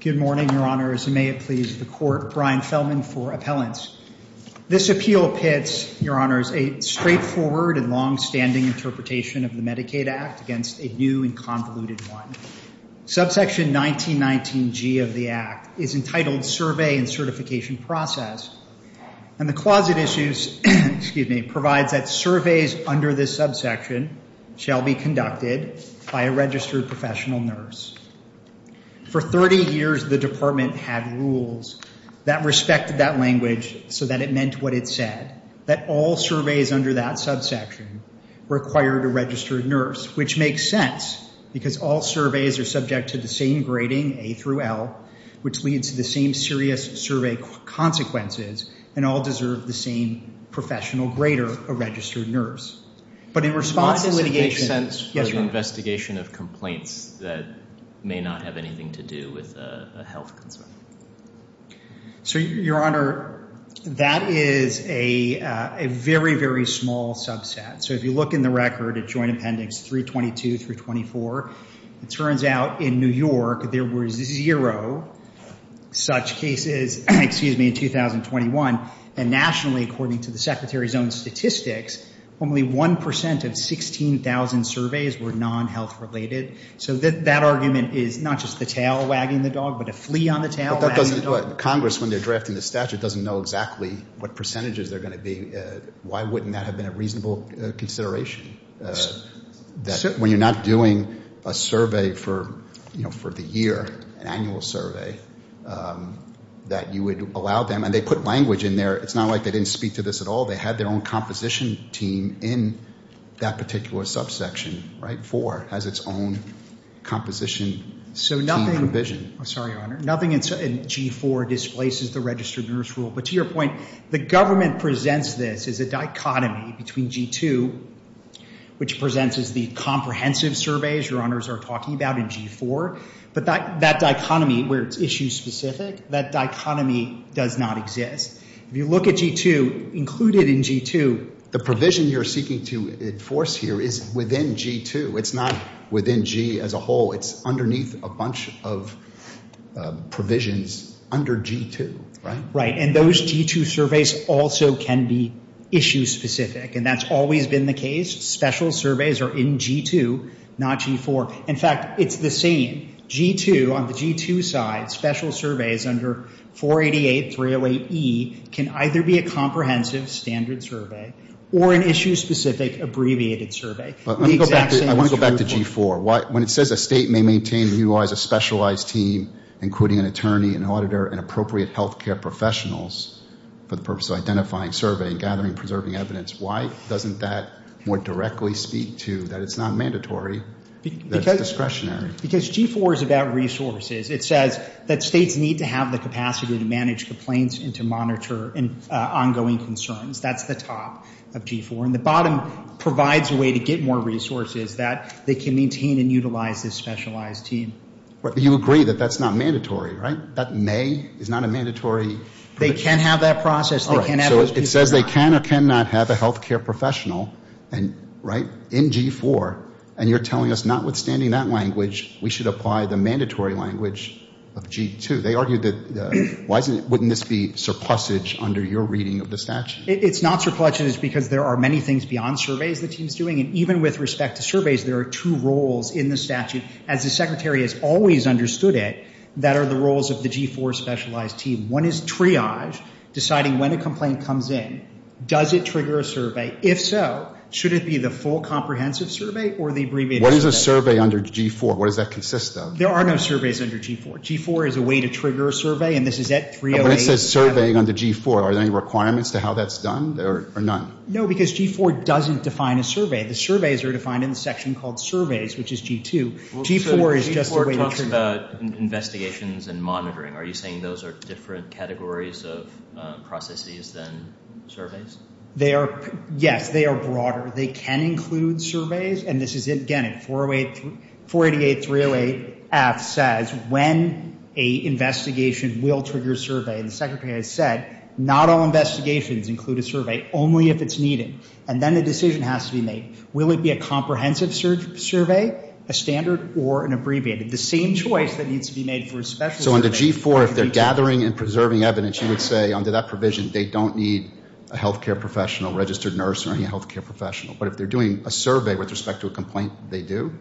Good morning, Your Honors, and may it please the Court, Brian Feldman for appellants. This appeal pits, Your Honors, a straightforward and long-standing interpretation of the Medicaid Act against a new and convoluted one. Subsection 1919G of the Act is entitled Survey and Certification Process, and the closet issues, excuse me, provides that surveys under this subsection shall be conducted by a registered professional nurse. For 30 years, the Department had rules that respected that language so that it meant what it said, that all surveys under that subsection required a registered nurse, which makes sense, because all surveys are subject to the same grading, A through L, which leads to the same serious survey consequences, and all deserve the same professional grader, a registered nurse. But in response to litigation, yes, Your Honor. Does it make sense for the investigation of complaints that may not have anything to do with a health concern? So, Your Honor, that is a very, very small subset. So if you look in the record at Joint Appendix 322 through 324, it turns out in New York there was zero such cases, excuse me, in 2021. And nationally, according to the Secretary's own statistics, only 1% of 16,000 surveys were non-health related. So that argument is not just the tail wagging the dog, but a flea on the tail wagging the dog. Congress, when they're drafting the statute, doesn't know exactly what percentages they're going to be. Why wouldn't that have been a reasonable consideration? That when you're not doing a survey for the year, an annual survey, that you would allow them, and they put language in there. It's not like they didn't speak to this at all. They had their own composition team in that particular subsection, right? 4 has its own composition team provision. So nothing, I'm sorry, Your Honor, nothing in G4 displaces the registered nurse rule. But to your point, the government presents this as a dichotomy between G2, which presents as the comprehensive surveys Your Honors are talking about in G4. But that dichotomy where it's issue specific, that dichotomy does not exist. If you look at G2, included in G2, the provision you're seeking to enforce here is within G2. It's not within G as a whole. It's underneath a bunch of provisions under G2, right? Right. And those G2 surveys also can be issue specific. And that's always been the case. Special surveys are in G2, not G4. In fact, it's the same. G2, on the G2 side, special surveys under 488, 308E, can either be a comprehensive standard survey or an issue specific abbreviated survey. The exact same is true for- I want to go back to G4. When it says a state may maintain and utilize a specialized team, including an attorney, an auditor, and appropriate healthcare professionals for the purpose of identifying, surveying, gathering, preserving evidence, why doesn't that more directly speak to that it's not mandatory, that it's discretionary? Because G4 is about resources. It says that states need to have the capacity to manage complaints and to monitor ongoing concerns. That's the top of G4. And the bottom provides a way to get more resources that they can maintain and utilize this specialized team. But you agree that that's not mandatory, right? That may is not a mandatory- They can have that process. They can have it. And, right, in G4, and you're telling us, notwithstanding that language, we should apply the mandatory language of G2. They argue that- wouldn't this be surplusage under your reading of the statute? It's not surplusage because there are many things beyond surveys the team's doing. And even with respect to surveys, there are two roles in the statute, as the secretary has always understood it, that are the roles of the G4 specialized team. One is triage, deciding when a complaint comes in. Does it trigger a survey? If so, should it be the full comprehensive survey or the abbreviated survey? What is a survey under G4? What does that consist of? There are no surveys under G4. G4 is a way to trigger a survey, and this is at 308- When it says surveying under G4, are there any requirements to how that's done, or none? No, because G4 doesn't define a survey. The surveys are defined in the section called surveys, which is G2. G4 is just a way to trigger- G4 talks about investigations and monitoring. Are you saying those are different categories of processes than surveys? They are- Yes, they are broader. They can include surveys, and this is, again, at 408- 488-308-F says when a investigation will trigger a survey. And the secretary has said, not all investigations include a survey, only if it's needed. And then the decision has to be made. Will it be a comprehensive survey, a standard, or an abbreviated? The same choice that needs to be made for a special- So under G4, if they're gathering and preserving evidence, you would say under that provision, they don't need a healthcare professional, registered nurse, or any healthcare professional. But if they're doing a survey with respect to a complaint, they do?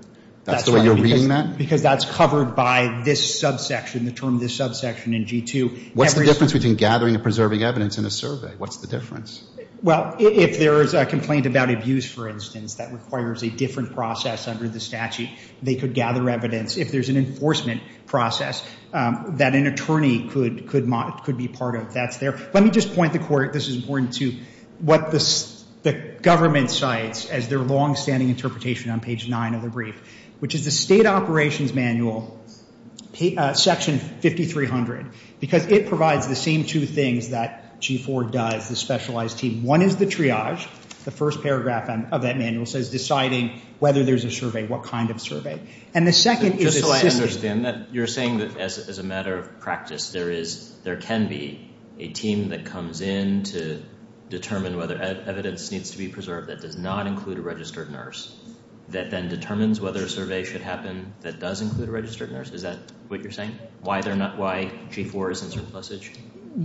That's the way you're reading that? Because that's covered by this subsection, the term this subsection in G2. What's the difference between gathering and preserving evidence in a survey? What's the difference? Well, if there is a complaint about abuse, for instance, that requires a different process under the statute, they could gather evidence. If there's an enforcement process that an attorney could be part of, that's there. Let me just point the court, this is important too, what the government cites as their long-standing interpretation on page 9 of the brief, which is the state operations manual, section 5300, because it provides the same two things that G4 does, the specialized team. One is the triage, the first paragraph of that manual says deciding whether there's a survey, what kind of survey. And the second is... Just so I understand that, you're saying that as a matter of practice, there can be a team that comes in to determine whether evidence needs to be preserved that does not include a registered nurse, that then determines whether a survey should happen that does include a registered nurse. Is that what you're saying? Why G4 isn't surplusage?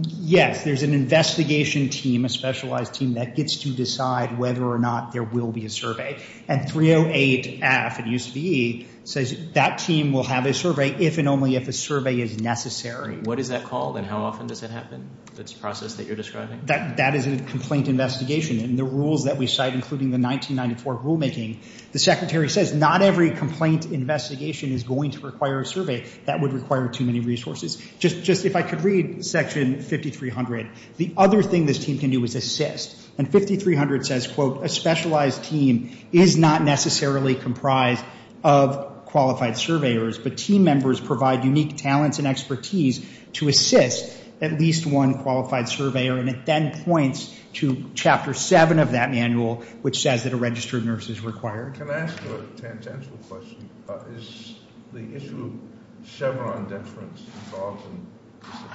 Yes, there's an investigation team, a specialized team, that gets to decide whether or not there will be a survey. And 308F at USVE says that team will have a survey if and only if a survey is necessary. What is that called and how often does it happen? That's the process that you're describing? That is a complaint investigation and the rules that we cite, including the 1994 rulemaking, the secretary says not every complaint investigation is going to require a survey. That would require too many resources. Just if I could read section 5300, the other thing this team can do is assist. And 5300 says, quote, a specialized team is not necessarily comprised of qualified surveyors, but team members provide unique talents and expertise to assist at least one qualified surveyor. And it then points to chapter seven of that manual, which says that a registered nurse is required. Can I ask a tangential question? Is the issue of Chevron deference involved in this appeal?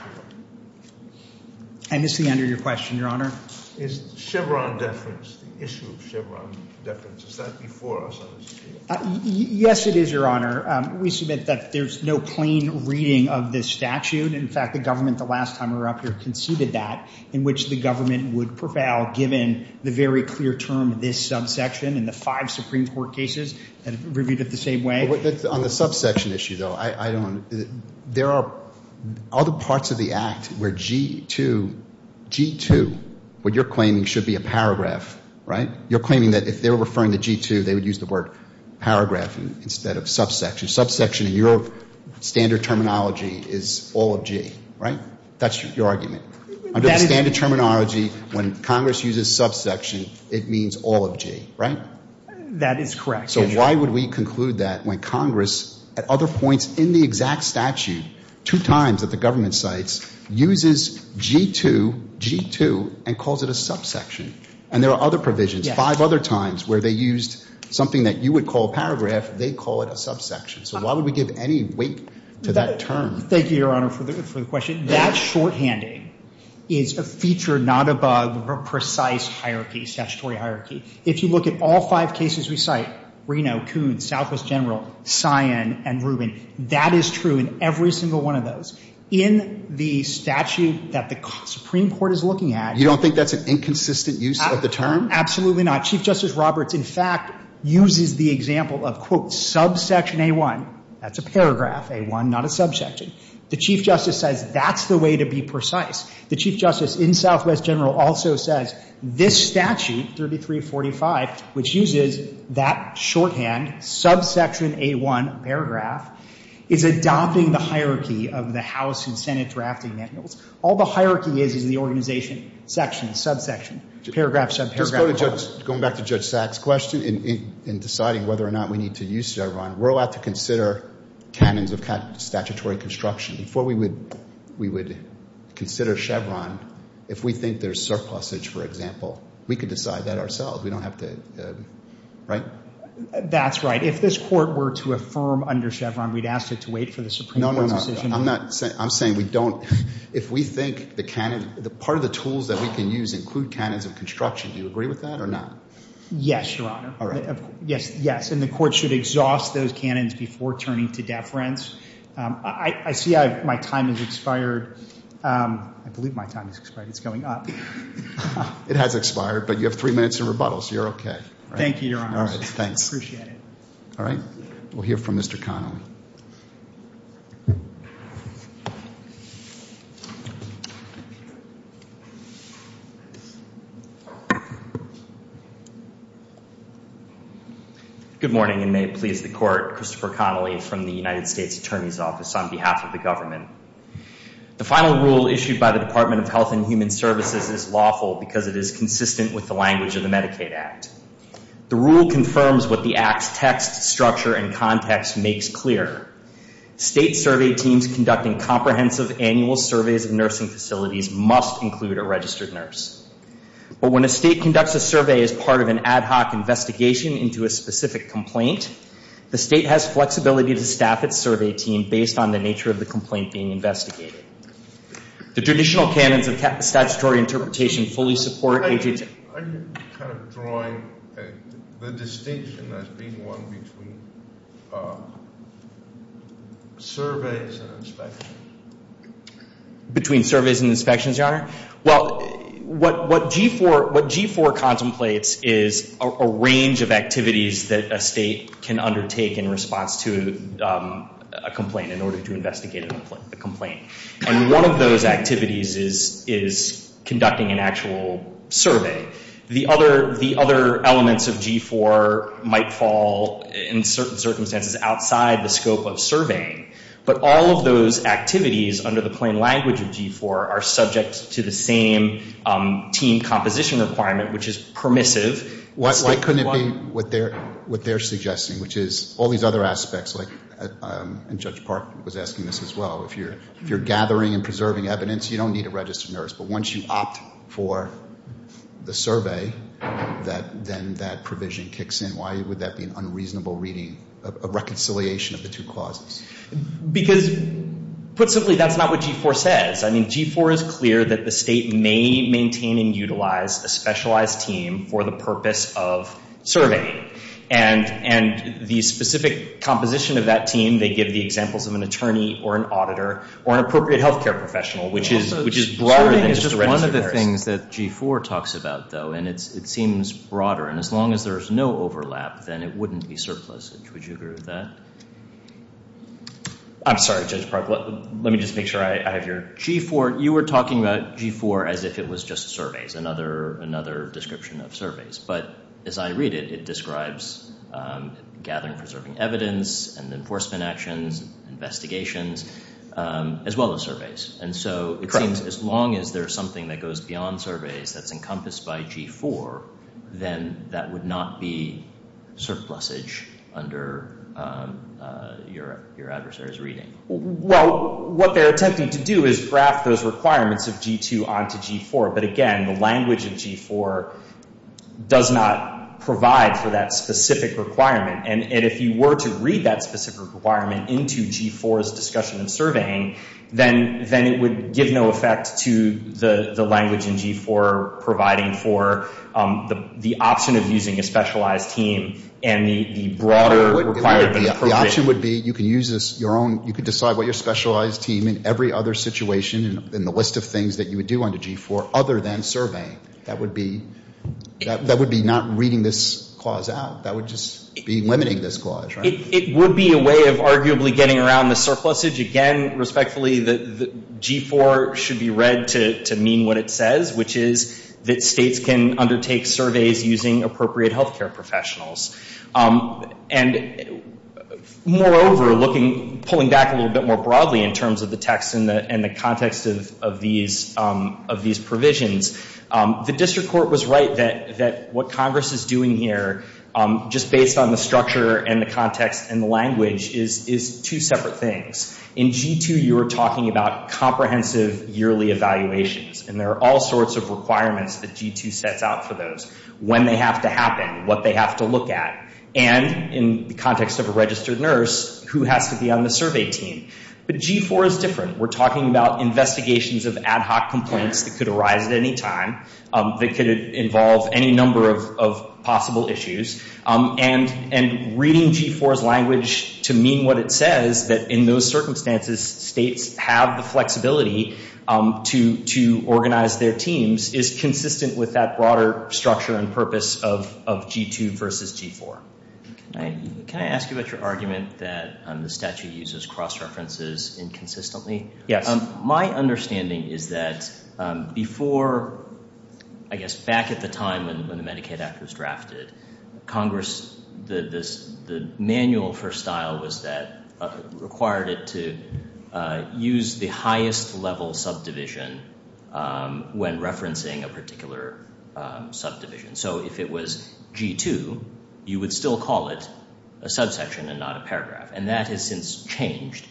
I miss the end of your question, your honor. Is Chevron deference, the issue of Chevron deference, is that before us on this appeal? Yes, it is, your honor. We submit that there's no plain reading of this statute. In fact, the government the last time we were up here conceded that, in which the government would prevail given the very clear term of this subsection in the five Supreme Court cases that have reviewed it the same way. But on the subsection issue, though, I don't, there are other parts of the act where G2, G2, what you're claiming should be a paragraph, right? You're claiming that if they were referring to G2, they would use the word paragraph instead of subsection. Subsection in your standard terminology is all of G, right? That's your argument. Under the standard terminology, when Congress uses subsection, it means all of G, right? That is correct. So why would we conclude that when Congress, at other points in the exact statute, two times that the government cites, uses G2, G2, and calls it a subsection? And there are other provisions, five other times where they used something that you would call paragraph, they call it a subsection. So why would we give any weight to that term? Thank you, your honor, for the question. That shorthanding is a feature, not a bug, of a precise hierarchy, statutory hierarchy. If you look at all five cases we cite, Reno, Coons, Southwest General, Sion, and Rubin, that is true in every single one of those. In the statute that the Supreme Court is looking at. You don't think that's an inconsistent use of the term? Absolutely not. Chief Justice Roberts, in fact, uses the example of, quote, subsection A1. That's a paragraph, A1, not a subsection. The Chief Justice says that's the way to be precise. The Chief Justice in Southwest General also says this statute, 3345, which uses that shorthand, subsection A1 paragraph, is adopting the hierarchy of the House and Senate drafting manuals. All the hierarchy is is the organization, section, subsection, paragraph, subparagraph. Going back to Judge Sack's question in deciding whether or not we need to use Chevron, we're allowed to consider canons of statutory construction. Before we would consider Chevron, if we think there's surplusage, for example, we could decide that ourselves. We don't have to, right? That's right. If this court were to affirm under Chevron, we'd ask it to wait for the Supreme Court's decision. No, no, no. I'm saying we don't. If we think the part of the tools that we can use include canons of construction, do you agree with that or not? Yes, Your Honor. All right. Yes, yes. And the court should exhaust those canons before turning to deference. I see my time has expired. I believe my time has expired. It's going up. It has expired, but you have three minutes in rebuttal, so you're okay. Thank you, Your Honor. All right. Thanks. Appreciate it. All right. We'll hear from Mr. Connolly. Good morning, and may it please the Court. Christopher Connolly from the United States Attorney's Office on behalf of the government. The final rule issued by the Department of Health and Human Services is lawful because it is consistent with the language of the Medicaid Act. The rule confirms what the Act's text, structure, and context makes clear. State survey teams conducting comprehensive annual surveys of nursing facilities must include a registered nurse. But when a state conducts a survey as part of an ad hoc investigation into a specific complaint, the state has flexibility to staff its survey team based on the nature of the complaint being investigated. The traditional canons of statutory interpretation fully support agency. Are you kind of drawing the distinction as being one between surveys and inspections? Well, what G4 contemplates is a range of activities that a state can undertake in response to a complaint in order to investigate a complaint. And one of those activities is conducting an actual survey. The other elements of G4 might fall, in certain circumstances, outside the scope of surveying. But all of those activities under the plain language of G4 are subject to the same team composition requirement, which is permissive. Why couldn't it be what they're suggesting, which is all these other aspects, like Judge Park was asking this as well. If you're gathering and preserving evidence, you don't need a registered nurse. But once you opt for the survey, then that provision kicks in. Why would that be an unreasonable reading, a reconciliation of the two clauses? Because, put simply, that's not what G4 says. I mean, G4 is clear that the state may maintain and utilize a specialized team for the purpose of surveying. And the specific composition of that team, they give the examples of an attorney or an auditor or an appropriate healthcare professional, which is broader than just a registered nurse. Surveying is just one of the things that G4 talks about, though, and it seems broader. And as long as there's no overlap, then it wouldn't be surplusage. Would you agree with that? I'm sorry, Judge Park. Let me just make sure I have your... G4, you were talking about G4 as if it was just surveys, another description of surveys. But as I read it, it describes gathering and preserving evidence and enforcement actions, investigations, as well as surveys. And so it seems as long as there's something that goes beyond surveys that's encompassed by G4, then that would not be surplusage under your adversary's reading. Well, what they're attempting to do is graph those requirements of G2 onto G4. But again, the language of G4 does not provide for that specific requirement. And if you were to read that specific requirement into G4's discussion of surveying, then it would give no effect to the language in G4 providing for the option of using a specialized team and the broader requirement of appropriation. The option would be you could use your own, you could decide what your specialized team in every other situation in the list of things that you would do under G4 other than surveying. That would be not reading this clause out. That would just be limiting this clause, right? It would be a way of arguably getting around the surplusage. Again, respectfully, G4 should be read to mean what it says, which is that states can undertake surveys using appropriate health care professionals. And moreover, looking, pulling back a little bit more broadly in terms of the text and the context of these provisions, the district court was right that what Congress is doing here, just based on the structure and the context and the language, is two separate things. In G2, you were talking about comprehensive yearly evaluations, and there are all sorts of requirements that G2 sets out for those. When they have to happen, what they have to look at, and in the context of a registered nurse, who has to be on the survey team. But G4 is different. We're talking about investigations of ad hoc complaints that could arise at any time, that could involve any number of possible issues. And reading G4's language to mean what it says, that in those circumstances, states have the flexibility to organize their teams, is consistent with that broader structure and purpose of G2 versus G4. Can I ask you about your argument that the statute uses cross-references inconsistently? Yes. My understanding is that before, I guess back at the time when the Medicaid Act was drafted, Congress, the manual for style was that, required it to use the highest level subdivision when referencing a particular subdivision. So if it was G2, you would still call it a subsection and not a paragraph. And that has since changed.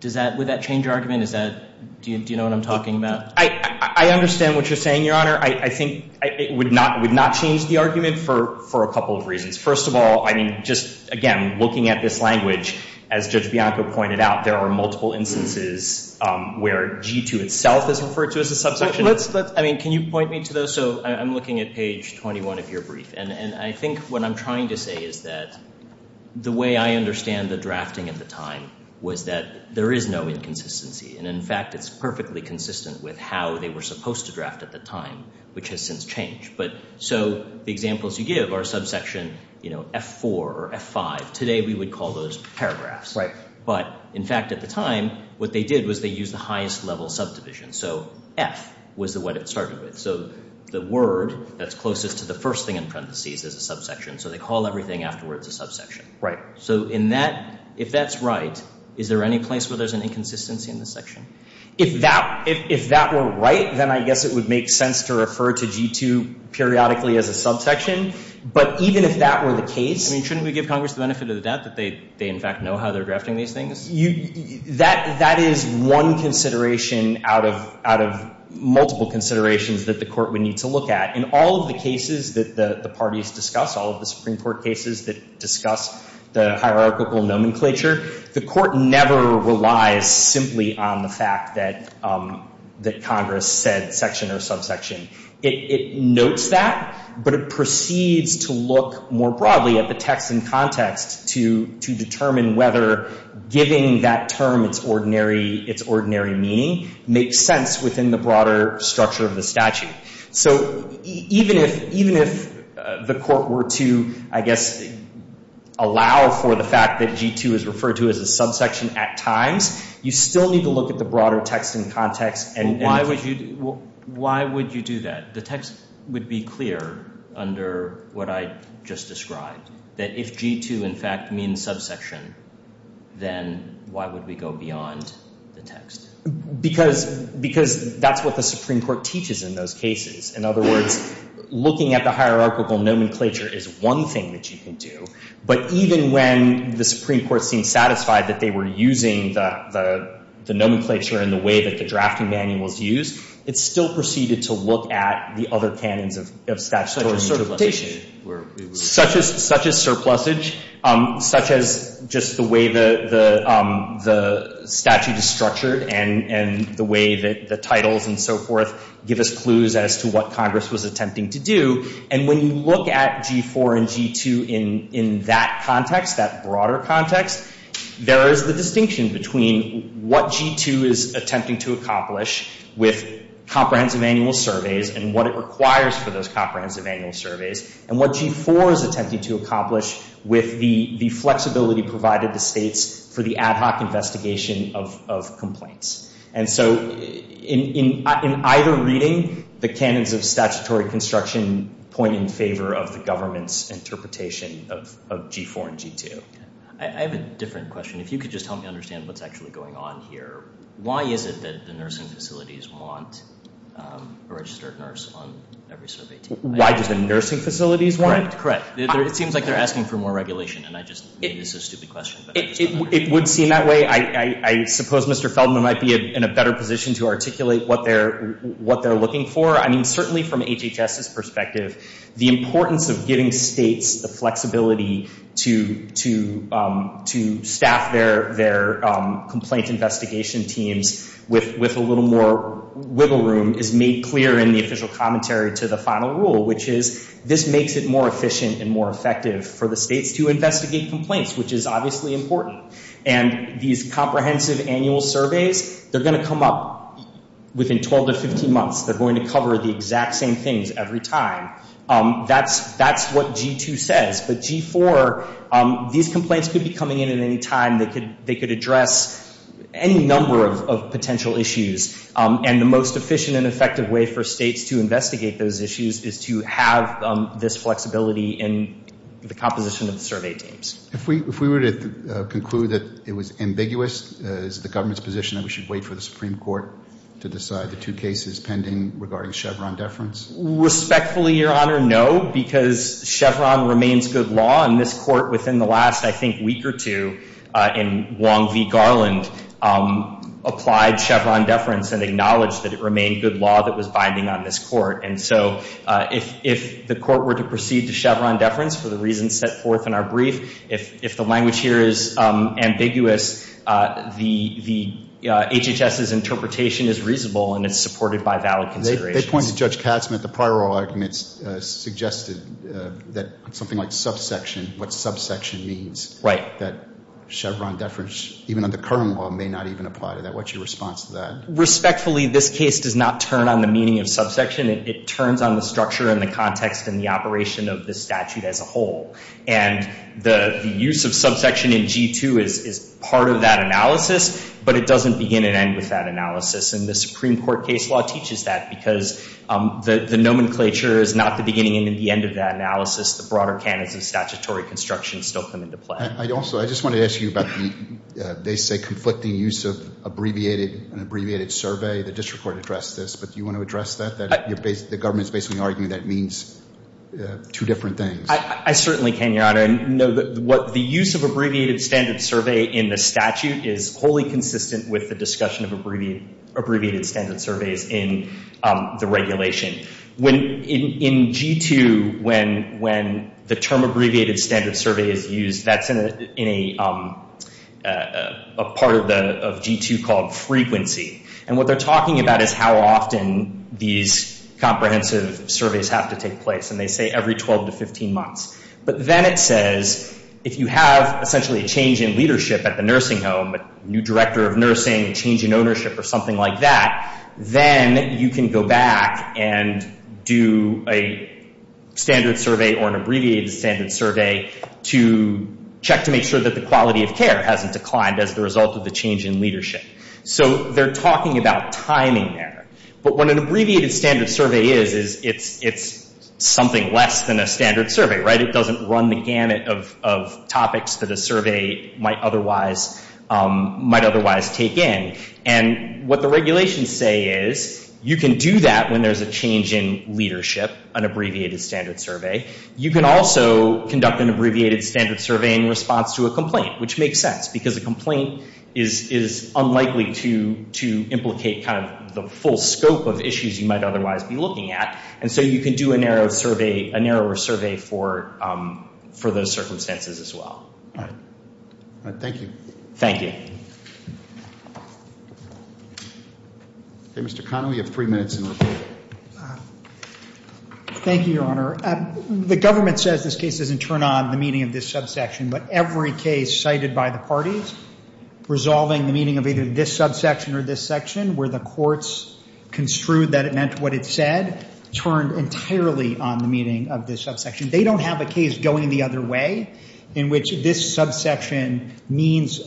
Does that, would that change your argument? Is that, do you know what I'm talking about? I understand what you're saying, Your Honor. I think it would not change the argument for a couple of reasons. First of all, I mean, just again, looking at this language, as Judge Bianco pointed out, there are multiple instances where G2 itself is referred to as a subsection. Let's, I mean, can you point me to those? So I'm looking at page 21 of your brief. And I think what I'm trying to say is that the way I understand the drafting at the time was that there is no inconsistency. And in fact, it's perfectly consistent with how they were supposed to draft at the time, which has since changed. But so the examples you give are subsection, you know, F4 or F5. Today, we would call those paragraphs. Right. But in fact, at the time, what they did was they used the highest level subdivision. So F was what it started with. So the word that's closest to the first thing in parentheses is a subsection. So they call everything afterwards a subsection. Right. So in that, if that's right, is there any place where there's an inconsistency in the section? If that, if that were right, then I guess it would make sense to refer to G2 periodically as a subsection. But even if that were the case. I mean, shouldn't we give Congress the benefit of the doubt that they in fact know how they're drafting these things? You, that, that is one consideration out of, out of multiple considerations that the Court would need to look at. In all of the cases that the parties discuss, all of the Supreme Court cases that discuss the hierarchical nomenclature, the Court never relies simply on the fact that, that Congress said section or subsection. It, it notes that, but it proceeds to look more broadly at the text and context to, to determine whether giving that term its ordinary, its ordinary meaning makes sense within the broader structure of the statute. So even if, even if the Court were to, I guess, allow for the fact that G2 is referred to as a subsection at times, you still need to look at the broader text and context. And why would you, why would you do that? The text would be clear under what I just described. That if G2 in fact means subsection, then why would we go beyond the text? Because, because that's what the Supreme Court teaches in those cases. In other words, looking at the hierarchical nomenclature is one thing that you can do. But even when the Supreme Court seemed satisfied that they were using the, the, the nomenclature in the way that the drafting manual was used, it still proceeded to look at the other canons of, of statutory interpretation. Such as, such as surplusage, such as just the way the, the, the statute is structured and, and the way that the titles and so forth give us clues as to what Congress was attempting to do. And when you look at G4 and G2 in, in that context, that broader context, there is the distinction between what G2 is attempting to accomplish with comprehensive annual surveys and what it requires for those comprehensive annual surveys. And what G4 is attempting to accomplish with the, the flexibility provided the states for the ad hoc investigation of, of complaints. And so in, in, in either reading, the canons of statutory construction point in favor of the government's interpretation of, of G4 and G2. I, I have a different question. If you could just help me understand what's actually going on here. Why is it that the nursing facilities want a registered nurse on every survey team? Why do the nursing facilities want? Correct. Correct. It seems like they're asking for more regulation. And I just made this a stupid question. It, it, it would seem that way. I, I, I suppose Mr. Feldman might be in a better position to articulate what they're, what they're looking for. I mean, certainly from HHS's perspective, the importance of giving states the flexibility to, to, to staff their, their complaint investigation teams with, with a little more wiggle room is made clear in the official commentary to the final rule. Which is, this makes it more efficient and more effective for the states to investigate complaints, which is obviously important. And these comprehensive annual surveys, they're going to come up within 12 to 15 months. They're going to cover the exact same things every time. That's, that's what G2 says. But G4, these complaints could be coming in at any time. They could, they could address any number of, of potential issues. And the most efficient and effective way for states to investigate those issues is to have this flexibility in the composition of the survey teams. If we, if we were to conclude that it was ambiguous, is the government's position that we should wait for the Supreme Court to decide the two cases pending regarding Chevron deference? Respectfully, Your Honor, no. Because Chevron remains good law. And this court within the last, I think, week or two in Wong v. Garland applied Chevron deference and acknowledged that it remained good law that was binding on this court. And so if, if the court were to proceed to Chevron deference for the reasons set forth in our brief, if, if the language here is ambiguous, the, the HHS's interpretation is reasonable and it's supported by valid considerations. They, they pointed to Judge Katzmann at the prior oral arguments suggested that something like subsection, what subsection means. Right. That Chevron deference, even under current law, may not even apply to that. What's your response to that? Respectfully, this case does not turn on the meaning of subsection. It, it turns on the structure and the context and the operation of the statute as a whole. And the, the use of subsection in G2 is, is part of that analysis, but it doesn't begin and end with that analysis. And the Supreme Court case law teaches that because the, the nomenclature is not the beginning and the end of that analysis. The broader canons of statutory construction still come into play. I also, I just want to ask you about the, they say conflicting use of abbreviated, an abbreviated survey. The district court addressed this, but do you want to address that? You're basically, the government's basically arguing that means two different things. I, I certainly can, Your Honor. And no, the, what the use of abbreviated standard survey in the statute is wholly consistent with the discussion of abbreviated, abbreviated standard surveys in the regulation. When, in, in G2, when, when the term abbreviated standard survey is used, that's in a, in a, a part of the, of G2 called frequency. And what they're talking about is how often these comprehensive surveys have to take place. And they say every 12 to 15 months. But then it says, if you have essentially a change in leadership at the nursing home, a new director of nursing, a change in ownership or something like that, then you can go back and do a standard survey or an abbreviated standard survey to check to make sure that the quality of care hasn't declined as the result of the change in leadership. So they're talking about timing there. But what an abbreviated standard survey is, is it's, it's something less than a standard survey, right? It doesn't run the gamut of, of topics that a survey might otherwise, might otherwise take in. And what the regulations say is you can do that when there's a change in leadership, an abbreviated standard survey. You can also conduct an abbreviated standard survey in response to a complaint, which makes sense because a complaint is, is unlikely to, to implicate kind of the full scope of issues you might otherwise be looking at. And so you can do a narrow survey, a narrower survey for, for those circumstances as well. All right. All right, thank you. Thank you. Okay, Mr. Connell, you have three minutes in the report. Thank you, Your Honor. The government says this case doesn't turn on the meaning of this subsection. But every case cited by the parties resolving the meaning of either this subsection or this section, where the courts construed that it meant what it said, turned entirely on the meaning of this subsection. They don't have a case going the other way in which this subsection means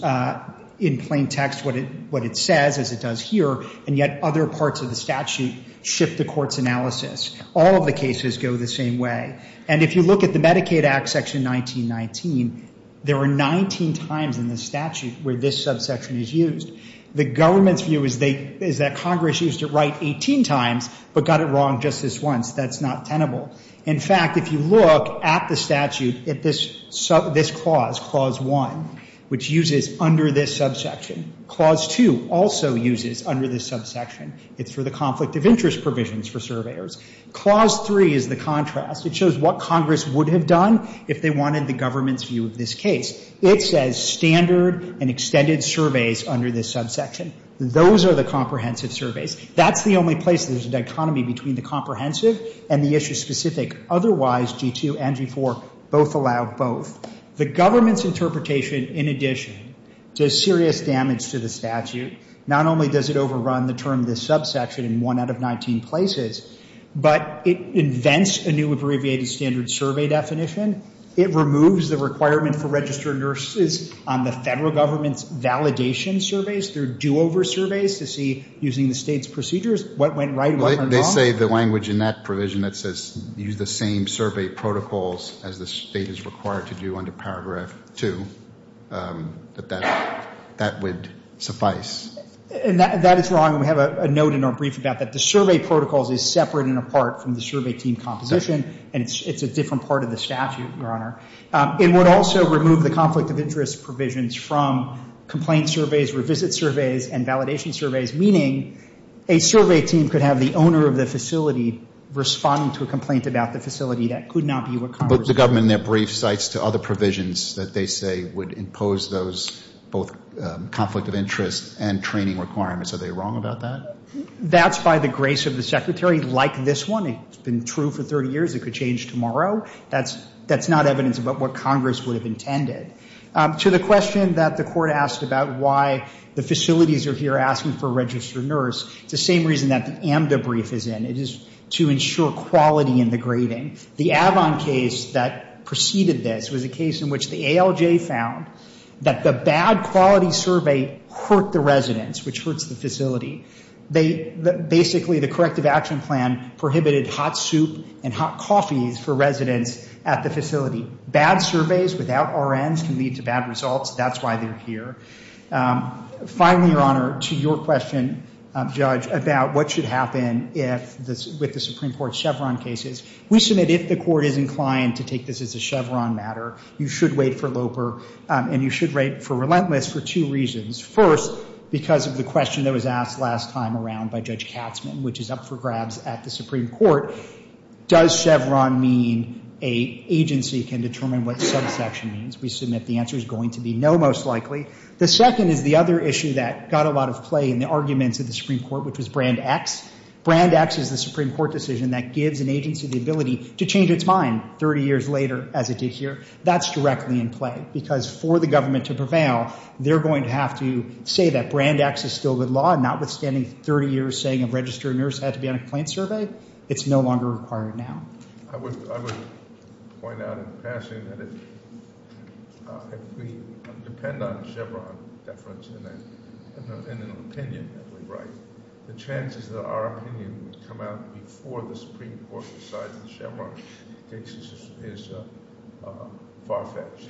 in plain text what it, what it says as it does here, and yet other parts of the statute shift the court's analysis. All of the cases go the same way. And if you look at the Medicaid Act Section 1919, there are 19 times in the statute where this subsection is used. The government's view is they, is that Congress used it right 18 times, but got it wrong just this once. That's not tenable. In fact, if you look at the statute at this sub, this clause, Clause 1, which uses under this subsection, Clause 2 also uses under this subsection. It's for the conflict of interest provisions for surveyors. Clause 3 is the contrast. It shows what Congress would have done if they wanted the government's view of this case. It says standard and extended surveys under this subsection. Those are the comprehensive surveys. That's the only place there's a dichotomy between the comprehensive and the issue specific. Otherwise, G2 and G4 both allow both. The government's interpretation, in addition, does serious damage to the statute. Not only does it overrun the term this subsection in one out of 19 places, but it invents a new abbreviated standard survey definition. It removes the requirement for registered nurses on the federal government's validation surveys. They're do-over surveys to see, using the state's procedures, what went right, what went wrong. They say the language in that provision that says, use the same survey protocols as the state is required to do under Paragraph 2, that that would suffice. And that is wrong, and we have a note in our brief about that. Survey protocols is separate and apart from the survey team composition, and it's a different part of the statute, Your Honor. It would also remove the conflict of interest provisions from complaint surveys, revisit surveys, and validation surveys. Meaning, a survey team could have the owner of the facility responding to a complaint about the facility that could not be what Congress would. But the government, in their brief, cites to other provisions that they say would impose those, both conflict of interest and training requirements. Are they wrong about that? That's by the grace of the Secretary, like this one. It's been true for 30 years. It could change tomorrow. That's not evidence about what Congress would have intended. To the question that the Court asked about why the facilities are here asking for a registered nurse, it's the same reason that the AMDA brief is in. It is to ensure quality in the grading. The Avon case that preceded this was a case in which the ALJ found that the bad quality survey hurt the residents, which hurts the facility. Basically, the corrective action plan prohibited hot soup and hot coffees for residents at the facility. Bad surveys without RNs can lead to bad results. That's why they're here. Finally, Your Honor, to your question, Judge, about what should happen with the Supreme Court Chevron cases. We submit, if the Court is inclined to take this as a Chevron matter, you should wait for Loper, and you should wait for Relentless for two reasons. First, because of the question that was asked last time around by Judge Katzman, which is up for grabs at the Supreme Court, does Chevron mean an agency can determine what subsection means? We submit the answer is going to be no, most likely. The second is the other issue that got a lot of play in the arguments of the Supreme Court, which was Brand X. Brand X is the Supreme Court decision that gives an agency the ability to change its mind 30 years later, as it did here. That's directly in play, because for the government to prevail, they're going to have to say that Brand X is still the law, notwithstanding 30 years saying a registered nurse had to be on a complaint survey. It's no longer required now. I would point out in passing that if we depend on Chevron deference in an opinion that we write, the chances that our opinion would come out before the Supreme Court decides that Chevron is far-fetched.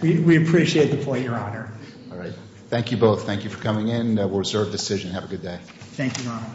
We appreciate the point, Your Honor. All right. Thank you both. Thank you for coming in. We'll reserve decision. Have a good day. Thank you, Your Honor.